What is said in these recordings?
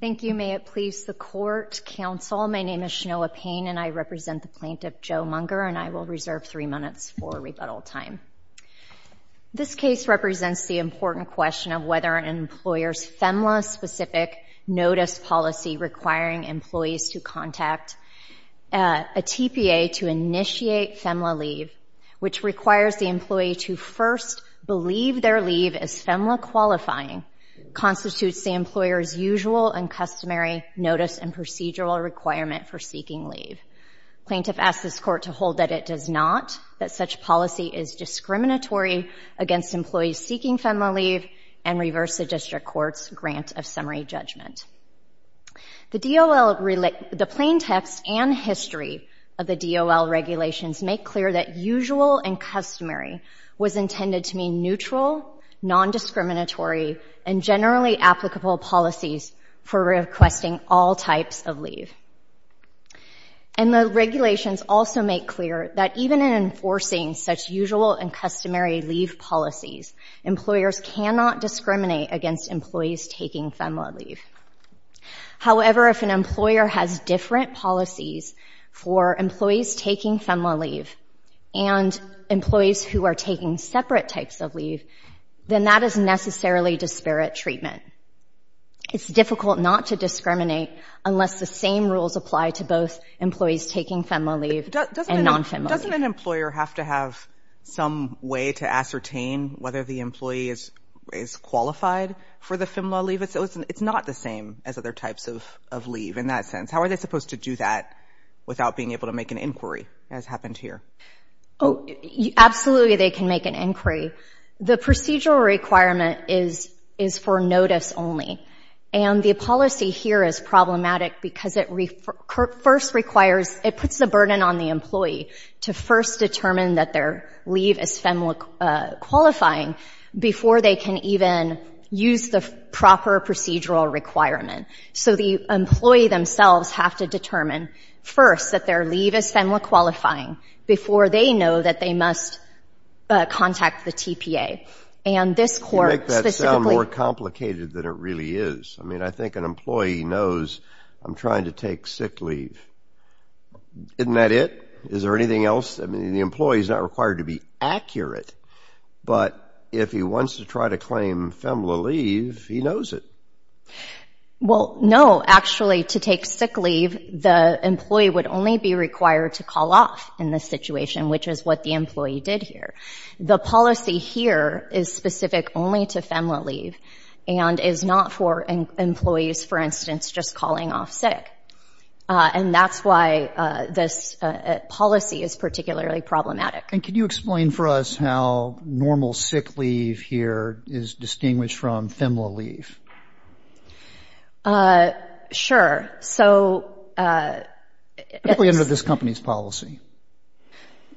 Thank you, may it please the Court, Counsel. My name is Shanoa Payne and I represent the plaintiff, Joe Munger, and I will reserve three minutes for rebuttal time. This case represents the important question of whether an employer's FEMLA-specific notice policy requiring employees to contact a TPA to initiate FEMLA leave, which requires the qualifying, constitutes the employer's usual and customary notice and procedural requirement for seeking leave. Plaintiff asks this Court to hold that it does not, that such policy is discriminatory against employees seeking FEMLA leave and reverse the District Court's grant of summary judgment. The DOL, the plain text and history of the DOL regulations make clear that usual and non-discriminatory and generally applicable policies for requesting all types of leave. And the regulations also make clear that even in enforcing such usual and customary leave policies, employers cannot discriminate against employees taking FEMLA leave. However, if an employer has different policies for employees taking FEMLA leave and employees who are taking separate types of leave, then that is necessarily disparate treatment. It's difficult not to discriminate unless the same rules apply to both employees taking FEMLA leave and non-FEMLA leave. Doesn't an employer have to have some way to ascertain whether the employee is qualified for the FEMLA leave? It's not the same as other types of leave in that sense. How are they supposed to do that without being able to make an inquiry, as happened here? Oh, absolutely they can make an inquiry. The procedural requirement is for notice only. And the policy here is problematic because it first requires, it puts the burden on the employee to first determine that their leave is FEMLA qualifying before they can even use the proper procedural requirement. So the employee themselves have to determine first that their leave is FEMLA qualifying before they know that they must contact the TPA. And this court specifically... You make that sound more complicated than it really is. I mean, I think an employee knows, I'm trying to take sick leave, isn't that it? Is there anything else? I mean, the employee is not required to be accurate, but if he wants to try to claim FEMLA leave, he knows it. Well, no, actually to take sick leave, the employee would only be required to call off in this situation, which is what the employee did here. The policy here is specific only to FEMLA leave and is not for employees, for instance, just calling off sick. And that's why this policy is particularly problematic. And can you explain for us how normal sick leave here is distinguished from FEMLA leave? Sure. So... Particularly under this company's policy.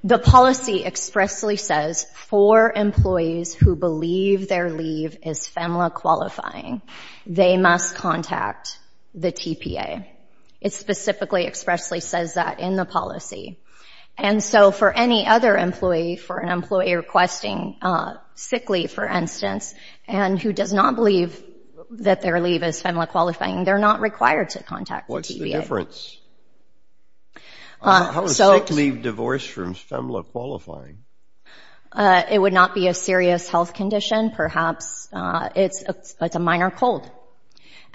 The policy expressly says for employees who believe their leave is FEMLA qualifying, they must contact the TPA. It specifically expressly says that in the policy. And so for any other employee, for an employee requesting sick leave, for instance, and who does not believe that their leave is FEMLA qualifying, they're not required to contact the TPA. What's the difference? How is sick leave divorced from FEMLA qualifying? It would not be a serious health condition, perhaps it's a minor cold.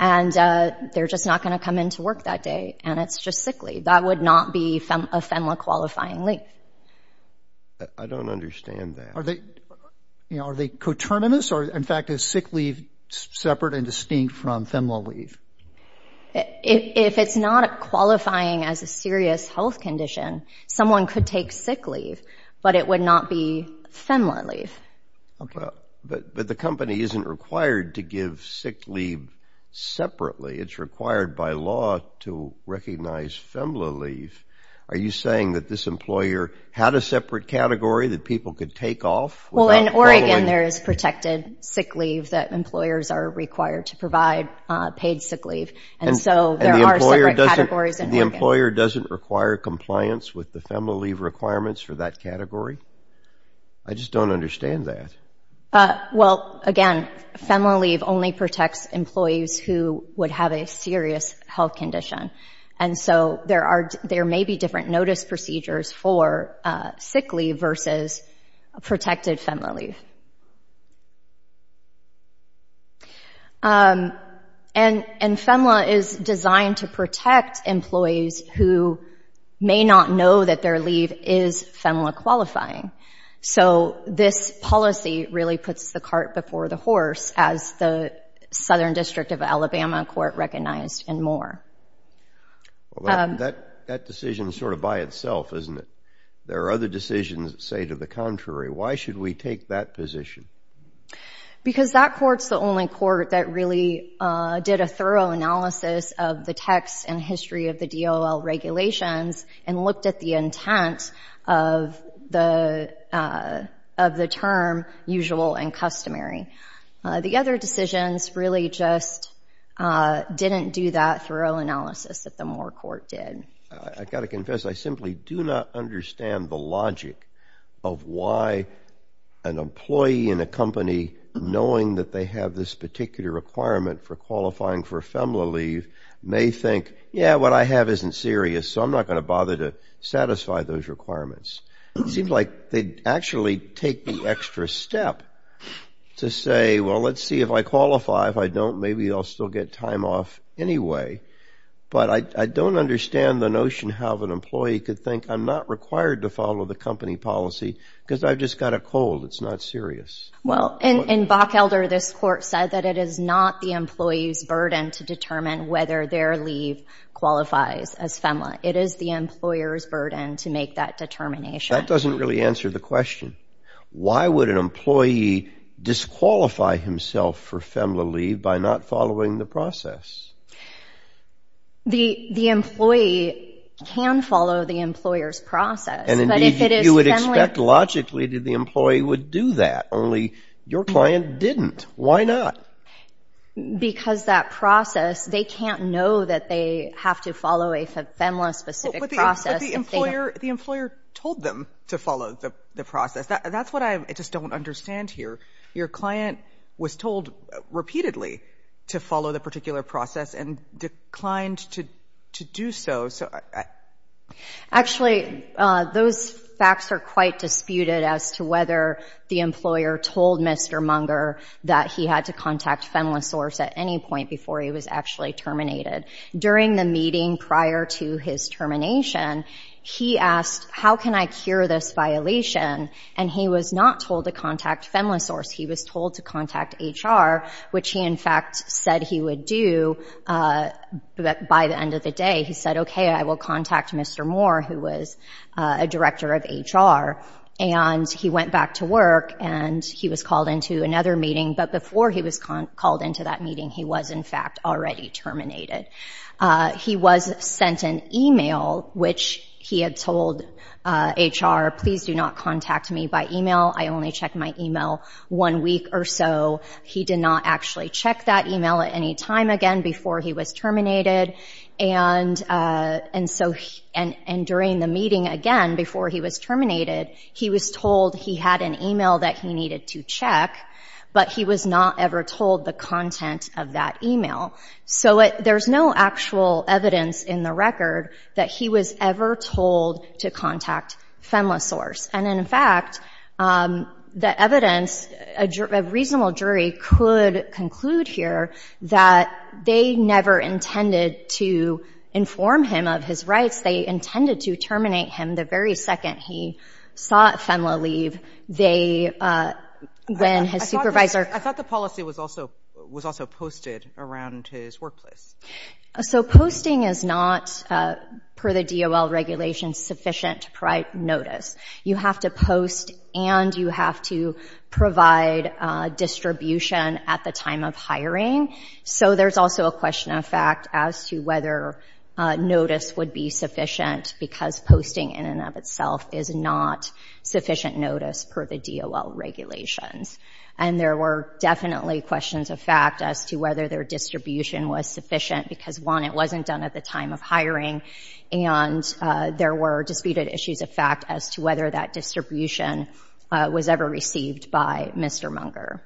And they're just not going to come into work that day, and it's just sick leave. That would not be a FEMLA qualifying leave. I don't understand that. Are they coterminous? Or, in fact, is sick leave separate and distinct from FEMLA leave? If it's not qualifying as a serious health condition, someone could take sick leave, but it would not be FEMLA leave. But the company isn't required to give sick leave separately. It's required by law to recognize FEMLA leave. Are you saying that this employer had a separate category that people could take off? Well, in Oregon, there is protected sick leave that employers are required to provide paid sick leave. And so there are separate categories in Oregon. And the employer doesn't require compliance with the FEMLA leave requirements for that category? I just don't understand that. Well, again, FEMLA leave only protects employees who would have a serious health condition. And so there may be different notice procedures for sick leave versus protected FEMLA leave. And FEMLA is designed to protect employees who may not know that their leave is FEMLA qualifying. So this policy really puts the cart before the horse, as the Southern District of Alabama Court recognized and more. That decision is sort of by itself, isn't it? There are other decisions that say to the contrary. Why should we take that position? Because that court's the only court that really did a thorough analysis of the text and history of the DOL regulations and looked at the intent of the term usual and customary. The other decisions really just didn't do that thorough analysis that the Moore Court did. I've got to confess, I simply do not understand the logic of why an employee in a company knowing that they have this particular requirement for qualifying for FEMLA leave may think, yeah, what I have isn't serious, so I'm not going to bother to satisfy those requirements. It seems like they actually take the extra step to say, well, let's see if I qualify. If I don't, maybe I'll still get time off anyway. But I don't understand the notion how an employee could think I'm not required to follow the company policy because I've just got a cold. It's not serious. Well, in Bock Elder, this court said that it is not the employee's burden to determine whether their leave qualifies as FEMLA. It is the employer's burden to make that determination. That doesn't really answer the question. Why would an employee disqualify himself for FEMLA leave by not following the process? The employee can follow the employer's process, but if it is FEMLA... You would expect logically that the employee would do that, only your client didn't. Why not? Because that process, they can't know that they have to follow a FEMLA-specific process. The employer told them to follow the process. That's what I just don't understand here. Your client was told repeatedly to follow the particular process and declined to do so. Actually, those facts are quite disputed as to whether the employer told Mr. Munger that he had to contact FEMLA source at any point before he was actually terminated. During the meeting prior to his termination, he asked, how can I cure this violation? He was not told to contact FEMLA source. He was told to contact HR, which he in fact said he would do. By the end of the day, he said, okay, I will contact Mr. Moore, who was a director of HR. He went back to work and he was called into another meeting, but before he was called into that meeting, he was in fact already terminated. He was sent an email, which he had told HR, please do not contact me by email. I only checked my email one week or so. He did not actually check that email at any time again before he was terminated. During the meeting again, before he was terminated, he was told he had an email that he needed to check, but he was not ever told the content of that email. There's no actual evidence in the record that he was ever told to contact FEMLA source. In fact, the evidence, a reasonable jury could conclude here that they never intended to inform him of his rights. They intended to terminate him the very second he sought FEMLA leave. They, when his supervisor- I thought the policy was also posted around his workplace. Posting is not, per the DOL regulations, sufficient to provide notice. You have to post and you have to provide distribution at the time of hiring. There's also a question of fact as to whether notice would be sufficient because posting in and of itself is not sufficient notice per the DOL regulations. There were definitely questions of fact as to whether their distribution was sufficient because one, it wasn't done at the time of hiring and there were disputed issues of fact as to whether that distribution was ever received by Mr. Munger.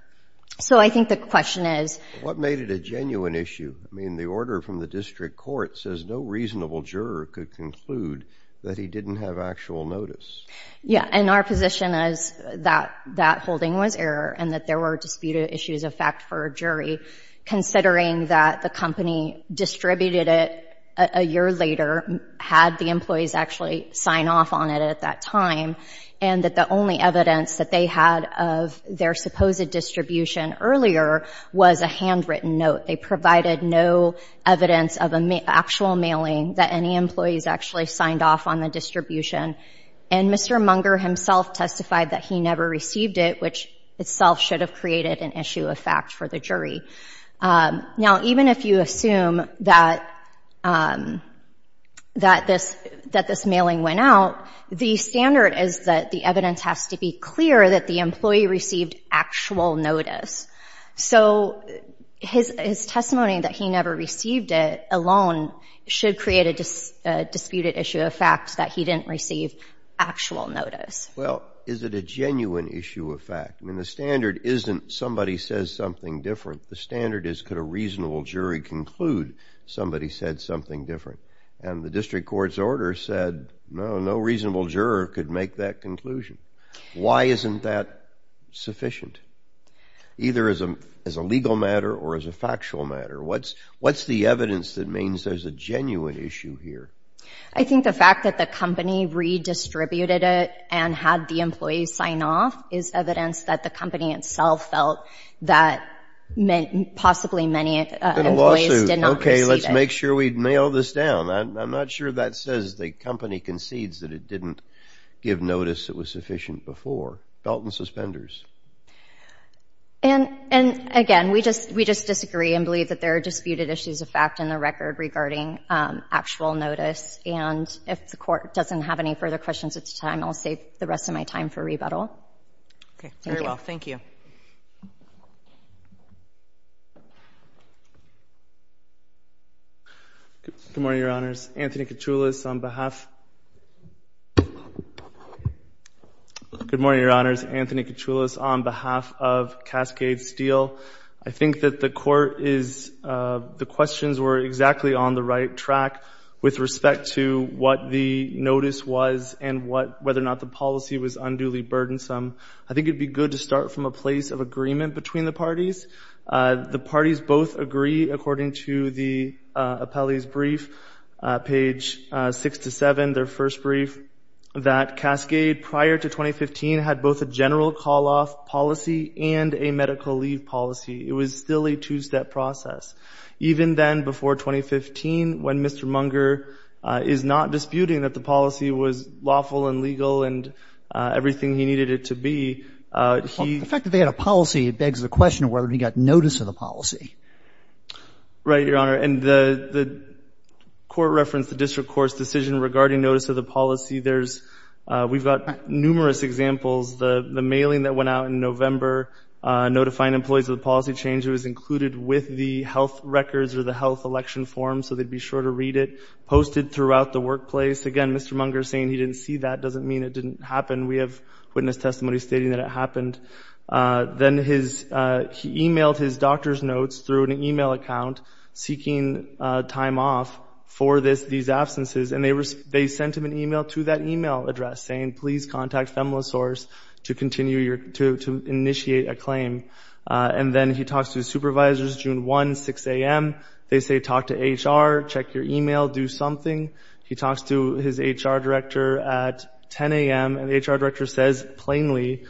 So I think the question is- What made it a genuine issue? I mean, the order from the district court says no reasonable juror could conclude that he didn't have actual notice. Yeah, and our position is that that holding was error and that there were disputed issues of fact for a jury considering that the company distributed it a year later, had the employees actually sign off on it at that time and that the only evidence that they had of their supposed distribution earlier was a handwritten note. They provided no evidence of actual mailing that any employees actually signed off on the distribution and Mr. Munger himself testified that he never received it, which itself should be. Now, even if you assume that this mailing went out, the standard is that the evidence has to be clear that the employee received actual notice. So his testimony that he never received it alone should create a disputed issue of fact that he didn't receive actual notice. Well, is it a genuine issue of fact? I mean, the standard isn't somebody says something different. The standard is could a reasonable jury conclude somebody said something different and the district court's order said no, no reasonable juror could make that conclusion. Why isn't that sufficient either as a legal matter or as a factual matter? What's the evidence that means there's a genuine issue here? I think the fact that the company redistributed it and had the employees sign off is evidence that the company itself felt that meant possibly many employees did not receive it. It's a lawsuit. Okay, let's make sure we nail this down. I'm not sure that says the company concedes that it didn't give notice that was sufficient before. Felton suspenders. And again, we just disagree and believe that there are disputed issues of fact in the record regarding actual notice. And if the court doesn't have any further questions at this time, I'll save the rest of my time for rebuttal. Okay. Thank you. Very well. Thank you. Good morning, Your Honors. Anthony Kachoulis on behalf of Cascade Steel. I think that the court is, the questions were exactly on the right track with respect to what the notice was and whether or not the policy was unduly burdensome. I think it'd be good to start from a place of agreement between the parties. The parties both agree, according to the appellee's brief, page six to seven, their first brief, that Cascade, prior to 2015, had both a general call-off policy and a medical leave policy. It was still a two-step process. Even then, before 2015, when Mr. Munger is not disputing that the policy was lawful and The fact that they had a policy begs the question of whether or not he got notice of the policy. Right, Your Honor. And the court referenced the district court's decision regarding notice of the policy. We've got numerous examples. The mailing that went out in November notifying employees of the policy change, it was included with the health records or the health election form, so they'd be sure to read it, posted throughout the workplace. Again, Mr. Munger saying he didn't see that doesn't mean it didn't happen. We have witness testimony stating that it happened. Then he emailed his doctor's notes through an email account seeking time off for these absences and they sent him an email to that email address saying, please contact FEMLA source to initiate a claim. And then he talks to his supervisors, June 1, 6 a.m. They say, talk to HR, check your email, do something. He talks to his HR director at 10 a.m. and the HR director says, plainly,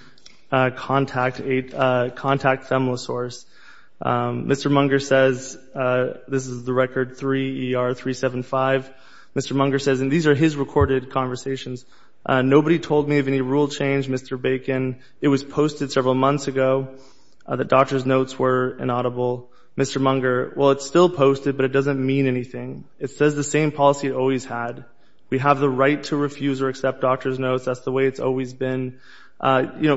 contact FEMLA source. Mr. Munger says, this is the record, 3 ER 375. Mr. Munger says, and these are his recorded conversations, nobody told me of any rule change, Mr. Bacon. It was posted several months ago. The doctor's notes were inaudible. Mr. Munger, well, it's still posted, but it doesn't mean anything. It says the same policy it always had. We have the right to refuse or accept doctor's notes. That's the way it's always been. You know,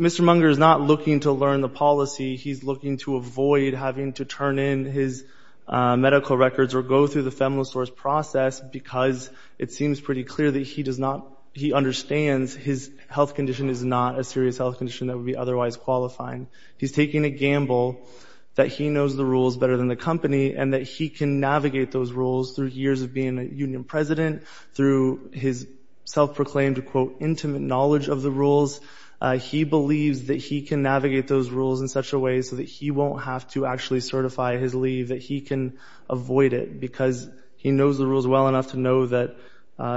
Mr. Munger is not looking to learn the policy. He's looking to avoid having to turn in his medical records or go through the FEMLA source process because it seems pretty clear that he does not, he understands his health condition is not a serious health condition that would be otherwise qualifying. He's taking a gamble that he knows the rules better than the company and that he can navigate those rules through years of being a union president, through his self-proclaimed quote, intimate knowledge of the rules. He believes that he can navigate those rules in such a way so that he won't have to actually certify his leave, that he can avoid it because he knows the rules well enough to know that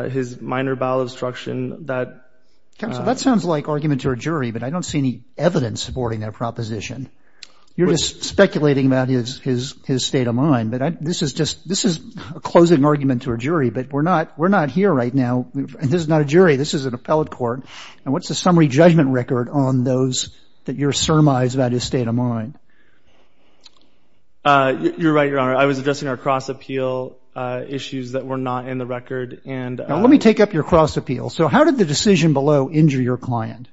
his minor bowel obstruction that. That sounds like argument to a jury, but I don't see any evidence supporting their proposition. You're just speculating about his state of mind, but this is just, this is a closing argument to a jury, but we're not, we're not here right now. This is not a jury. This is an appellate court. And what's the summary judgment record on those that you're surmised about his state of mind? You're right, Your Honor. I was addressing our cross appeal issues that were not in the record. And let me take up your cross appeal. So how did the decision below injure your client?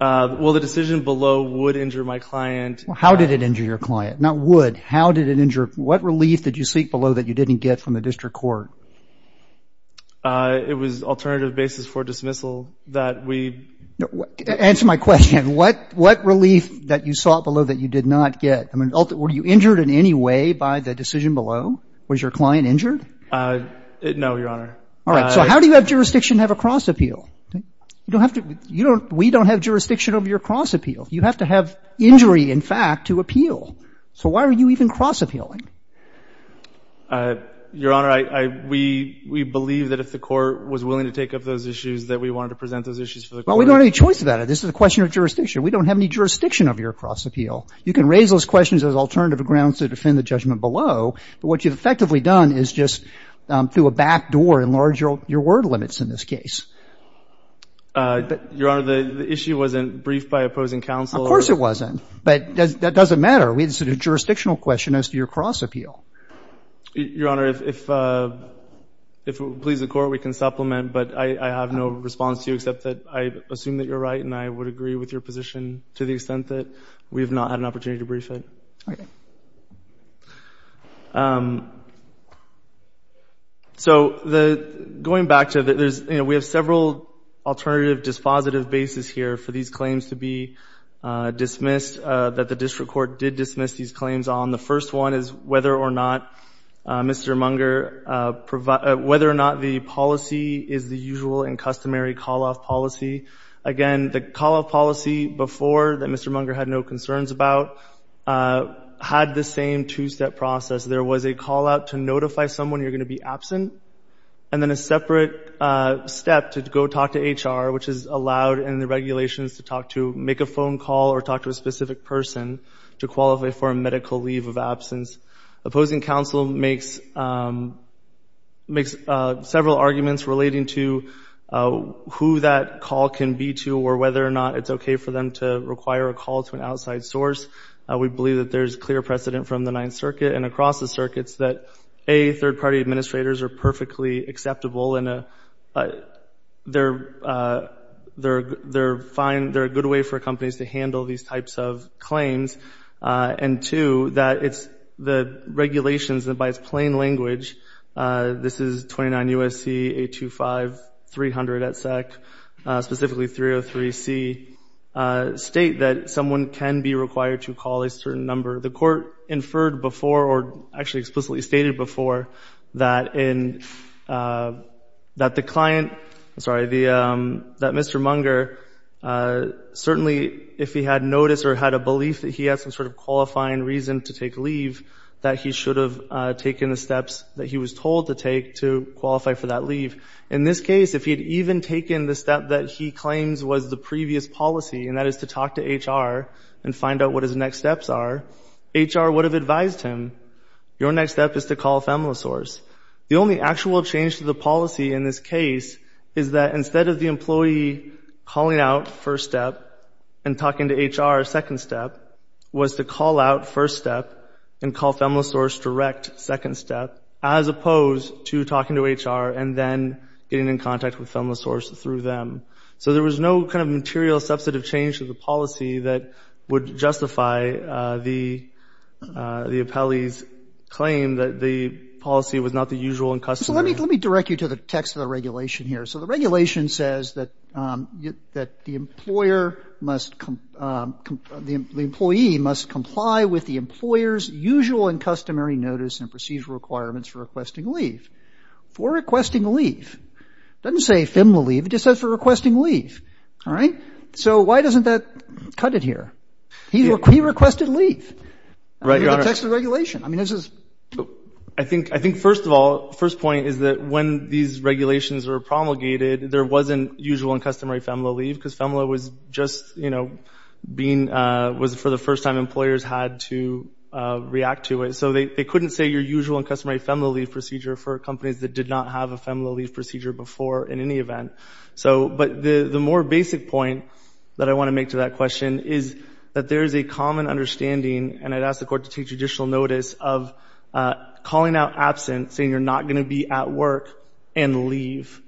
Well, the decision below would injure my client. How did it injure your client? Not would, how did it injure, what relief did you seek below that you didn't get from the district court? It was alternative basis for dismissal that we. Answer my question. What, what relief that you sought below that you did not get? I mean, were you injured in any way by the decision below? Was your client injured? No, Your Honor. All right. So how do you have jurisdiction to have a cross appeal? You don't have to, you don't, we don't have jurisdiction over your cross appeal. You have to have injury, in fact, to appeal. So why are you even cross appealing? Your Honor, I, I, we, we believe that if the court was willing to take up those issues, that we wanted to present those issues for the court. Well, we don't have any choice about it. This is a question of jurisdiction. We don't have any jurisdiction of your cross appeal. You can raise those questions as alternative grounds to defend the judgment below. But what you've effectively done is just through a back door enlarge your, your word limits in this case. Your Honor, the, the issue wasn't briefed by opposing counsel. Of course it wasn't. But does, that doesn't matter. We had a jurisdictional question as to your cross appeal. Your Honor, if, if, if it pleases the court, we can supplement. But I, I have no response to you except that I assume that you're right and I would agree with your position to the extent that we have not had an opportunity to brief it. Okay. So, the, going back to the, there's, you know, we have several alternative dispositive bases here for these claims to be dismissed. That the district court did dismiss these claims on. The first one is whether or not Mr. Munger provide, whether or not the policy is the usual and customary call-off policy. Again, the call-off policy before that Mr. Munger had no concerns about. Had the same two-step process. There was a call-out to notify someone you're going to be absent. And then a separate step to go talk to HR, which is allowed in the regulations to talk to, make a phone call or talk to a specific person. To qualify for a medical leave of absence. Opposing counsel makes makes several arguments relating to who that call can be to or whether or not it's okay for them to require a call to an outside source. We believe that there's clear precedent from the Ninth Circuit and across the circuits that, A, third-party administrators are perfectly acceptable in a, they're, they're, they're fine, they're a good way for companies to handle these types of claims. And two, that it's the regulations that by its plain language, this is 29 USC 825-300 at SEC, specifically 303-C, state that someone can be required to call a certain number. The court inferred before, or actually explicitly stated before, that in that the client, I'm sorry, the that Mr. Munger certainly, if he had noticed or had a belief that he had some sort of qualifying reason to take leave, that he should have taken the steps that he was told to take to qualify for that leave. In this case, if he had even taken the step that he claims was the previous policy, and that is to talk to HR and find out what his next steps are, HR would have advised him, your next step is to call a FEMLA source. The only actual change to the policy in this case is that instead of the employee calling out first step and talking to HR second step, was to call out first step and getting in contact with FEMLA source through them. So there was no kind of material substantive change to the policy that would justify the appellee's claim that the policy was not the usual and customary. So let me direct you to the text of the regulation here. So the regulation says that the employer must, the employee must comply with the employer's usual and customary notice and procedural requirements for requesting leave. For requesting leave. It doesn't say FEMLA leave, it just says for requesting leave. All right. So why doesn't that cut it here? He requested leave. I mean, the text of the regulation. I mean, this is. I think, I think first of all, first point is that when these regulations were promulgated, there wasn't usual and customary FEMLA leave because FEMLA was just, you know, being, was for the first time employers had to react to it. So they couldn't say your usual and customary FEMLA leave procedure for companies that did not have a FEMLA leave procedure before in any event. So, but the more basic point that I want to make to that question is that there is a common understanding and I'd ask the court to take judicial notice of calling out absence, saying you're not going to be at work and leave.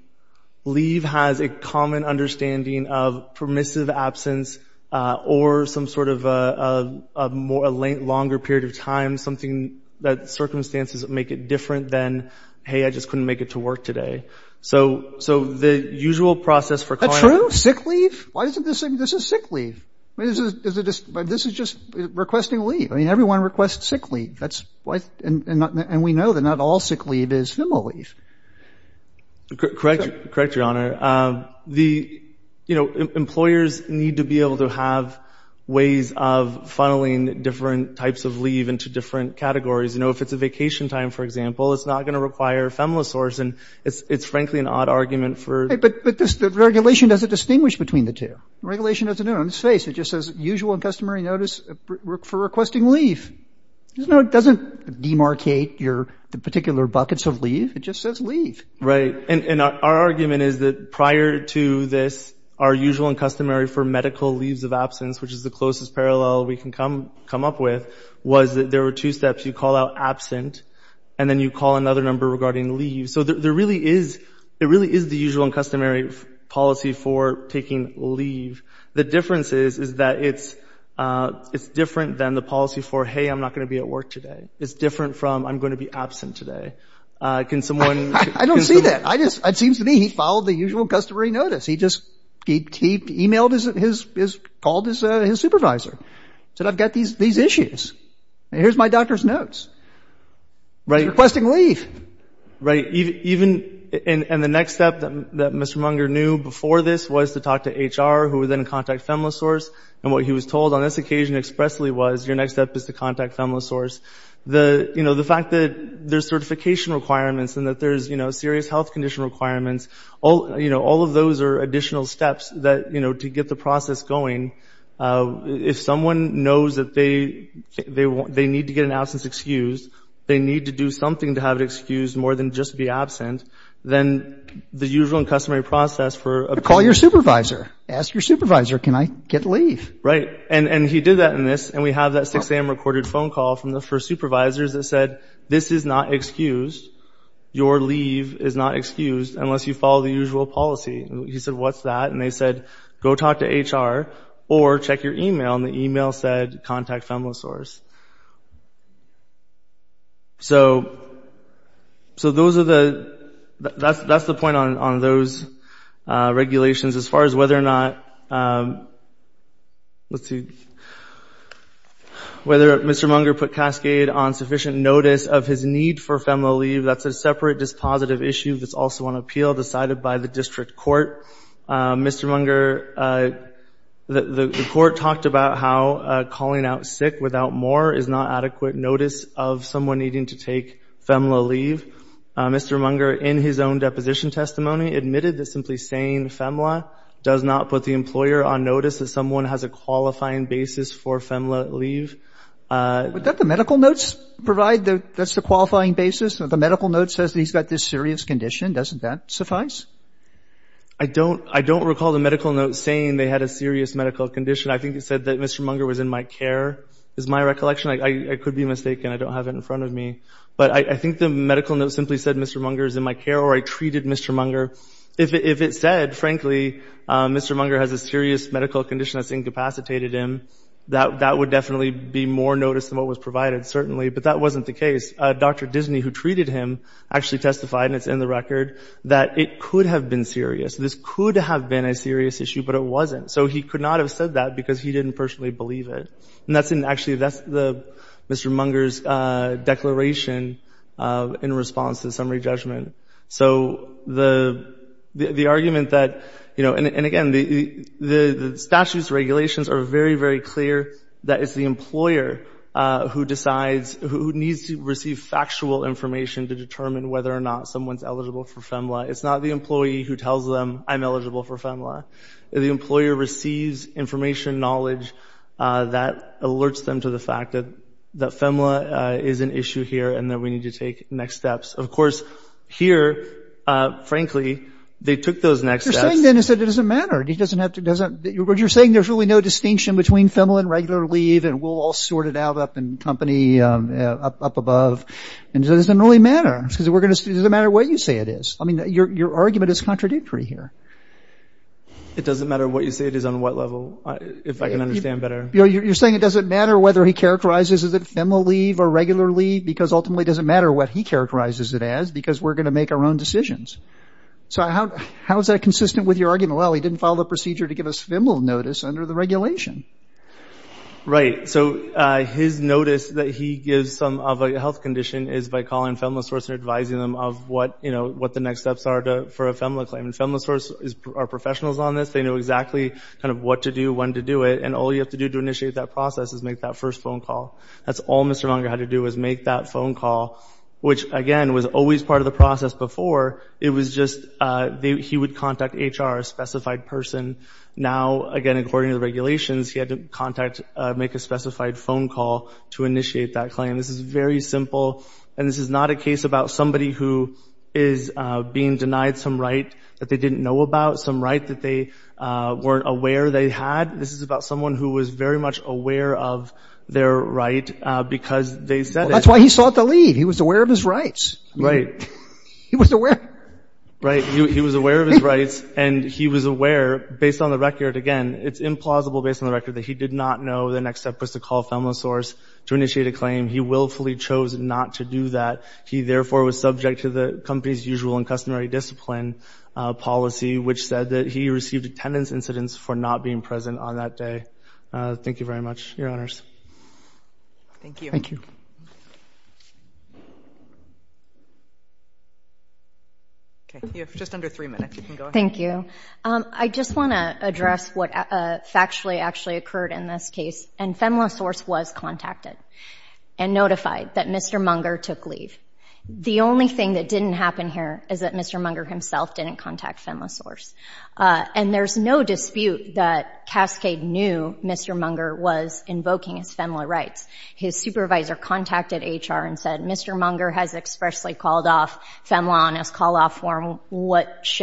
Leave has a common understanding of permissive absence or some sort of a more, a longer period of time, something that circumstances that make it different than, hey, I just couldn't make it to work today. So, so the usual process for. That's true. Sick leave. Why doesn't this, this is sick leave. I mean, is it just, this is just requesting leave. I mean, everyone requests sick leave. That's why, and we know that not all sick leave is FEMLA leave. Correct. Correct, Your Honor. The, you know, employers need to be able to have ways of funneling different types of leave into different categories. You know, if it's a vacation time, for example, it's not going to require FEMLA source. And it's, it's frankly an odd argument for. But, but this, the regulation doesn't distinguish between the two. Regulation doesn't do it on its face. It just says usual and customary notice for requesting leave. There's no, it doesn't demarcate your, the particular buckets of leave. It just says leave. Right. And our argument is that prior to this, our usual and customary for medical leaves of absence, which is the closest parallel we can come, come up with, was that there were two steps you call out absent, and then you call another number regarding leave. So there really is, it really is the usual and customary policy for taking leave. The difference is, is that it's, it's different than the policy for, hey, I'm not going to be at work today. It's different from, I'm going to be absent today. Can someone. I don't see that. I just, it seems to me he followed the usual customary notice. He just, he, he emailed his, his, his, called his, his supervisor. Said I've got these, these issues. Here's my doctor's notes. Right. He's requesting leave. Right. Even, even, and, and the next step that Mr. Munger knew before this was to talk to HR, who would then contact FEMLA source. And what he was told on this occasion expressly was your next step is to contact FEMLA source. The, you know, the fact that there's certification requirements and that there's, you know, serious health condition requirements. All, you know, all of those are additional steps that, you know, to get the process going. If someone knows that they, they want, they need to get an absence excuse. They need to do something to have it excused more than just be absent. Then the usual and customary process for. Call your supervisor. Ask your supervisor. Can I get leave? Right. And, and he did that in this. And we have that 6am recorded phone call from the first supervisors that said, this is not excused. Your leave is not excused unless you follow the usual policy. He said, what's that? And they said, go talk to HR or check your email. And the email said, contact FEMLA source. So, so those are the, that's, that's the point on, on those regulations as far as whether or not. Let's see. Whether Mr. Munger put Cascade on sufficient notice of his need for FEMLA leave. That's a separate dispositive issue that's also on appeal decided by the district court. Mr. Munger, the, the court talked about how calling out sick without more is not adequate notice of someone needing to take FEMLA leave. Mr. Munger, in his own deposition testimony, admitted that simply saying FEMLA does not put the employer on notice that someone has a qualifying basis for FEMLA leave. Would that the medical notes provide the, that's the qualifying basis? The medical note says that he's got this serious condition. Doesn't that suffice? I don't, I don't recall the medical note saying they had a serious medical condition. I think it said that Mr. Munger was in my care, is my recollection. I could be mistaken. I don't have it in front of me. But I think the medical note simply said Mr. Munger is in my care or I treated Mr. Munger. If it said, frankly, Mr. Munger has a serious medical condition that's incapacitated him, that, that would definitely be more notice than what was provided, certainly. But that wasn't the case. Dr. Disney, who treated him, actually testified, and it's in the record, that it could have been serious. This could have been a serious issue, but it wasn't. So he could not have said that because he didn't personally believe it. And that's in, actually, that's the, Mr. Munger's declaration in response to the summary judgment. So the, the argument that, you know, and again, the, the, the statute's regulations are very, very clear that it's the employer who decides, who needs to receive factual information to determine whether or not someone's eligible for FEMLA. It's not the employee who tells them, I'm eligible for FEMLA. The employer receives information knowledge that alerts them to the fact that, that FEMLA is an issue here and that we need to take next steps. Of course, here, frankly, they took those next steps. You're saying then it doesn't matter. He doesn't have to, doesn't, you're saying there's really no distinction between FEMLA and regular leave and we'll all sort it out up in company, up, up above. And it doesn't really matter because we're going to, it doesn't matter what you say it is. I mean, your, your argument is contradictory here. It doesn't matter what you say it is on what level, if I can understand better. You're saying it doesn't matter whether he characterizes it as FEMLA leave or regular leave because ultimately it doesn't matter what he characterizes it as because we're going to make our own decisions. So how, how is that consistent with your argument? Well, he didn't follow the procedure to give us FEMLA notice under the regulation. Right. So his notice that he gives some of a health condition is by calling FEMLA source and advising them of what, you know, what the next steps are to, for a FEMLA claim. And FEMLA source is, are professionals on this. They know exactly kind of what to do, when to do it. And all you have to do to initiate that process is make that first phone call. That's all Mr. Langer had to do was make that phone call, which again, was always part of the process before. It was just, he would contact HR, a specified person. Now, again, according to the regulations, he had to contact, make a specified phone call to initiate that claim. This is very simple. And this is not a case about somebody who is being denied some right that they didn't know about, some right that they weren't aware they had. This is about someone who was very much aware of their right because they said it. That's why he sought the leave. He was aware of his rights. Right. He was aware. Right. He was aware of his rights. And he was aware, based on the record, again, it's implausible based on the record that he did not know the next step was to call FEMLA source to initiate a claim. He willfully chose not to do that. He therefore was subject to the company's usual and customary discipline policy, which said that he received attendance incidents for not being present on that day. Thank you very much, your honors. Thank you. Thank you. OK, you have just under three minutes. You can go ahead. Thank you. I just want to address what factually actually occurred in this case. And FEMLA source was contacted and notified that Mr. Munger took leave. The only thing that didn't happen here is that Mr. Munger himself didn't contact FEMLA source. And there's no dispute that Cascade knew Mr. Munger was invoking his FEMLA rights. His supervisor contacted HR and said, Mr. Munger has expressly called off FEMLA on his call-off form.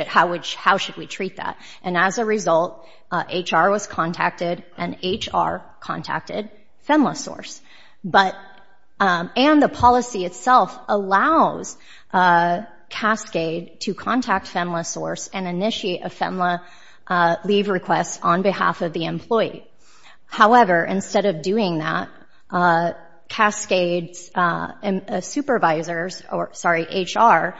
How should we treat that? And as a result, HR was contacted and HR contacted FEMLA source. And the policy itself allows Cascade to contact FEMLA source and initiate a FEMLA leave request on behalf of the employee. However, instead of doing that, Cascade's supervisors or, sorry, HR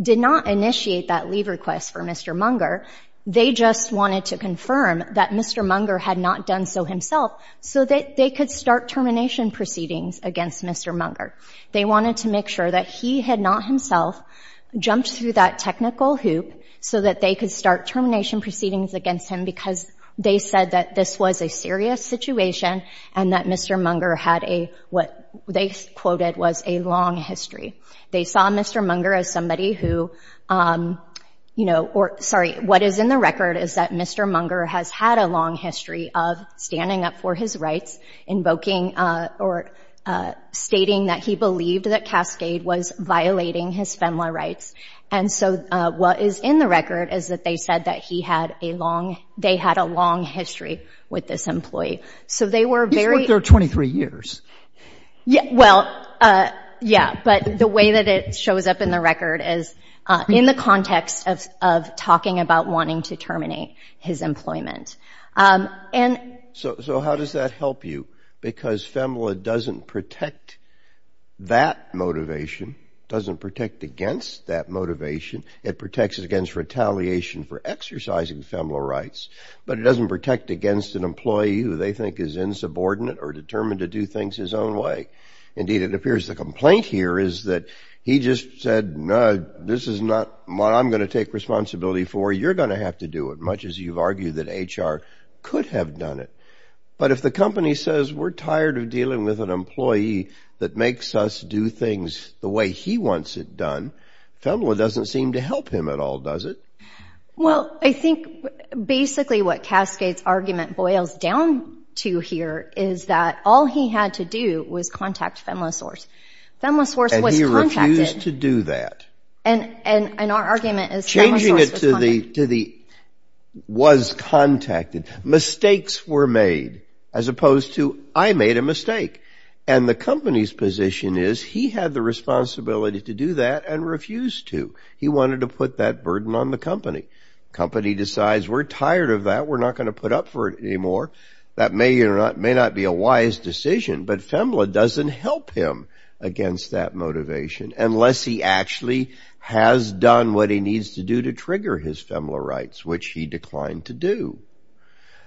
did not initiate that leave request for Mr. Munger. They just wanted to confirm that Mr. Munger had not done so himself so that they could start termination proceedings against Mr. Munger. They wanted to make sure that he had not himself jumped through that technical hoop so that they could start termination proceedings against him because they said that this was a serious situation and that Mr. Munger had a, what they quoted, was a long history. They saw Mr. Munger as somebody who, you know, or, sorry, what is in the record is that Mr. Munger has had a long history of standing up for his rights, invoking or stating that he believed that Cascade was violating his FEMLA rights. And so what is in the record is that they said that he had a long, they had a long history with this employee. So they were very- He's worked there 23 years. Yeah, well, yeah, but the way that it shows up in the record is in the context of talking about wanting to terminate his employment. And- So how does that help you? Because FEMLA doesn't protect that motivation, doesn't protect against that motivation. It protects against retaliation for exercising FEMLA rights, but it doesn't protect against an employee who they think is insubordinate or determined to do things his own way. Indeed, it appears the complaint here is that he just said, no, this is not what I'm going to take responsibility for. You're going to have to do it, much as you've argued that HR could have done it. But if the company says, we're tired of dealing with an employee that makes us do things the way he wants it done, FEMLA doesn't seem to help him at all, does it? Well, I think basically what Cascade's argument boils down to here is that all he had to do was contact FEMLA source. FEMLA source was contacted- And he refused to do that. And our argument is- To the was contacted. Mistakes were made as opposed to I made a mistake. And the company's position is he had the responsibility to do that and refused to. He wanted to put that burden on the company. Company decides we're tired of that. We're not going to put up for it anymore. That may or may not be a wise decision, but FEMLA doesn't help him against that motivation unless he actually has done what he needs to do to trigger his FEMLA rights, which he declined to do.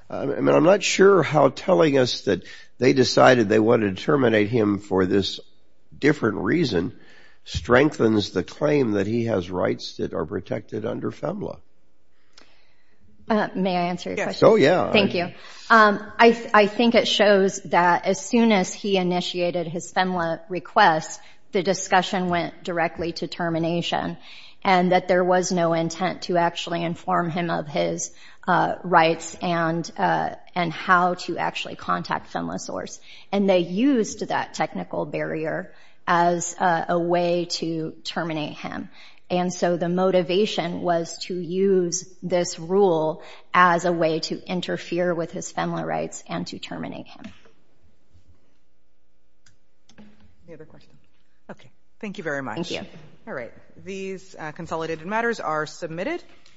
I'm not sure how telling us that they decided they wanted to terminate him for this different reason strengthens the claim that he has rights that are protected under FEMLA. May I answer your question? Oh, yeah. Thank you. I think it shows that as soon as he initiated his FEMLA request, the discussion went directly to termination and that there was no intent to actually inform him of his rights and how to actually contact FEMLA source. And they used that technical barrier as a way to terminate him. And so the motivation was to use this rule as a way to interfere with his FEMLA rights and to terminate him. Any other questions? Thank you very much. Thank you. All right. These consolidated matters are submitted.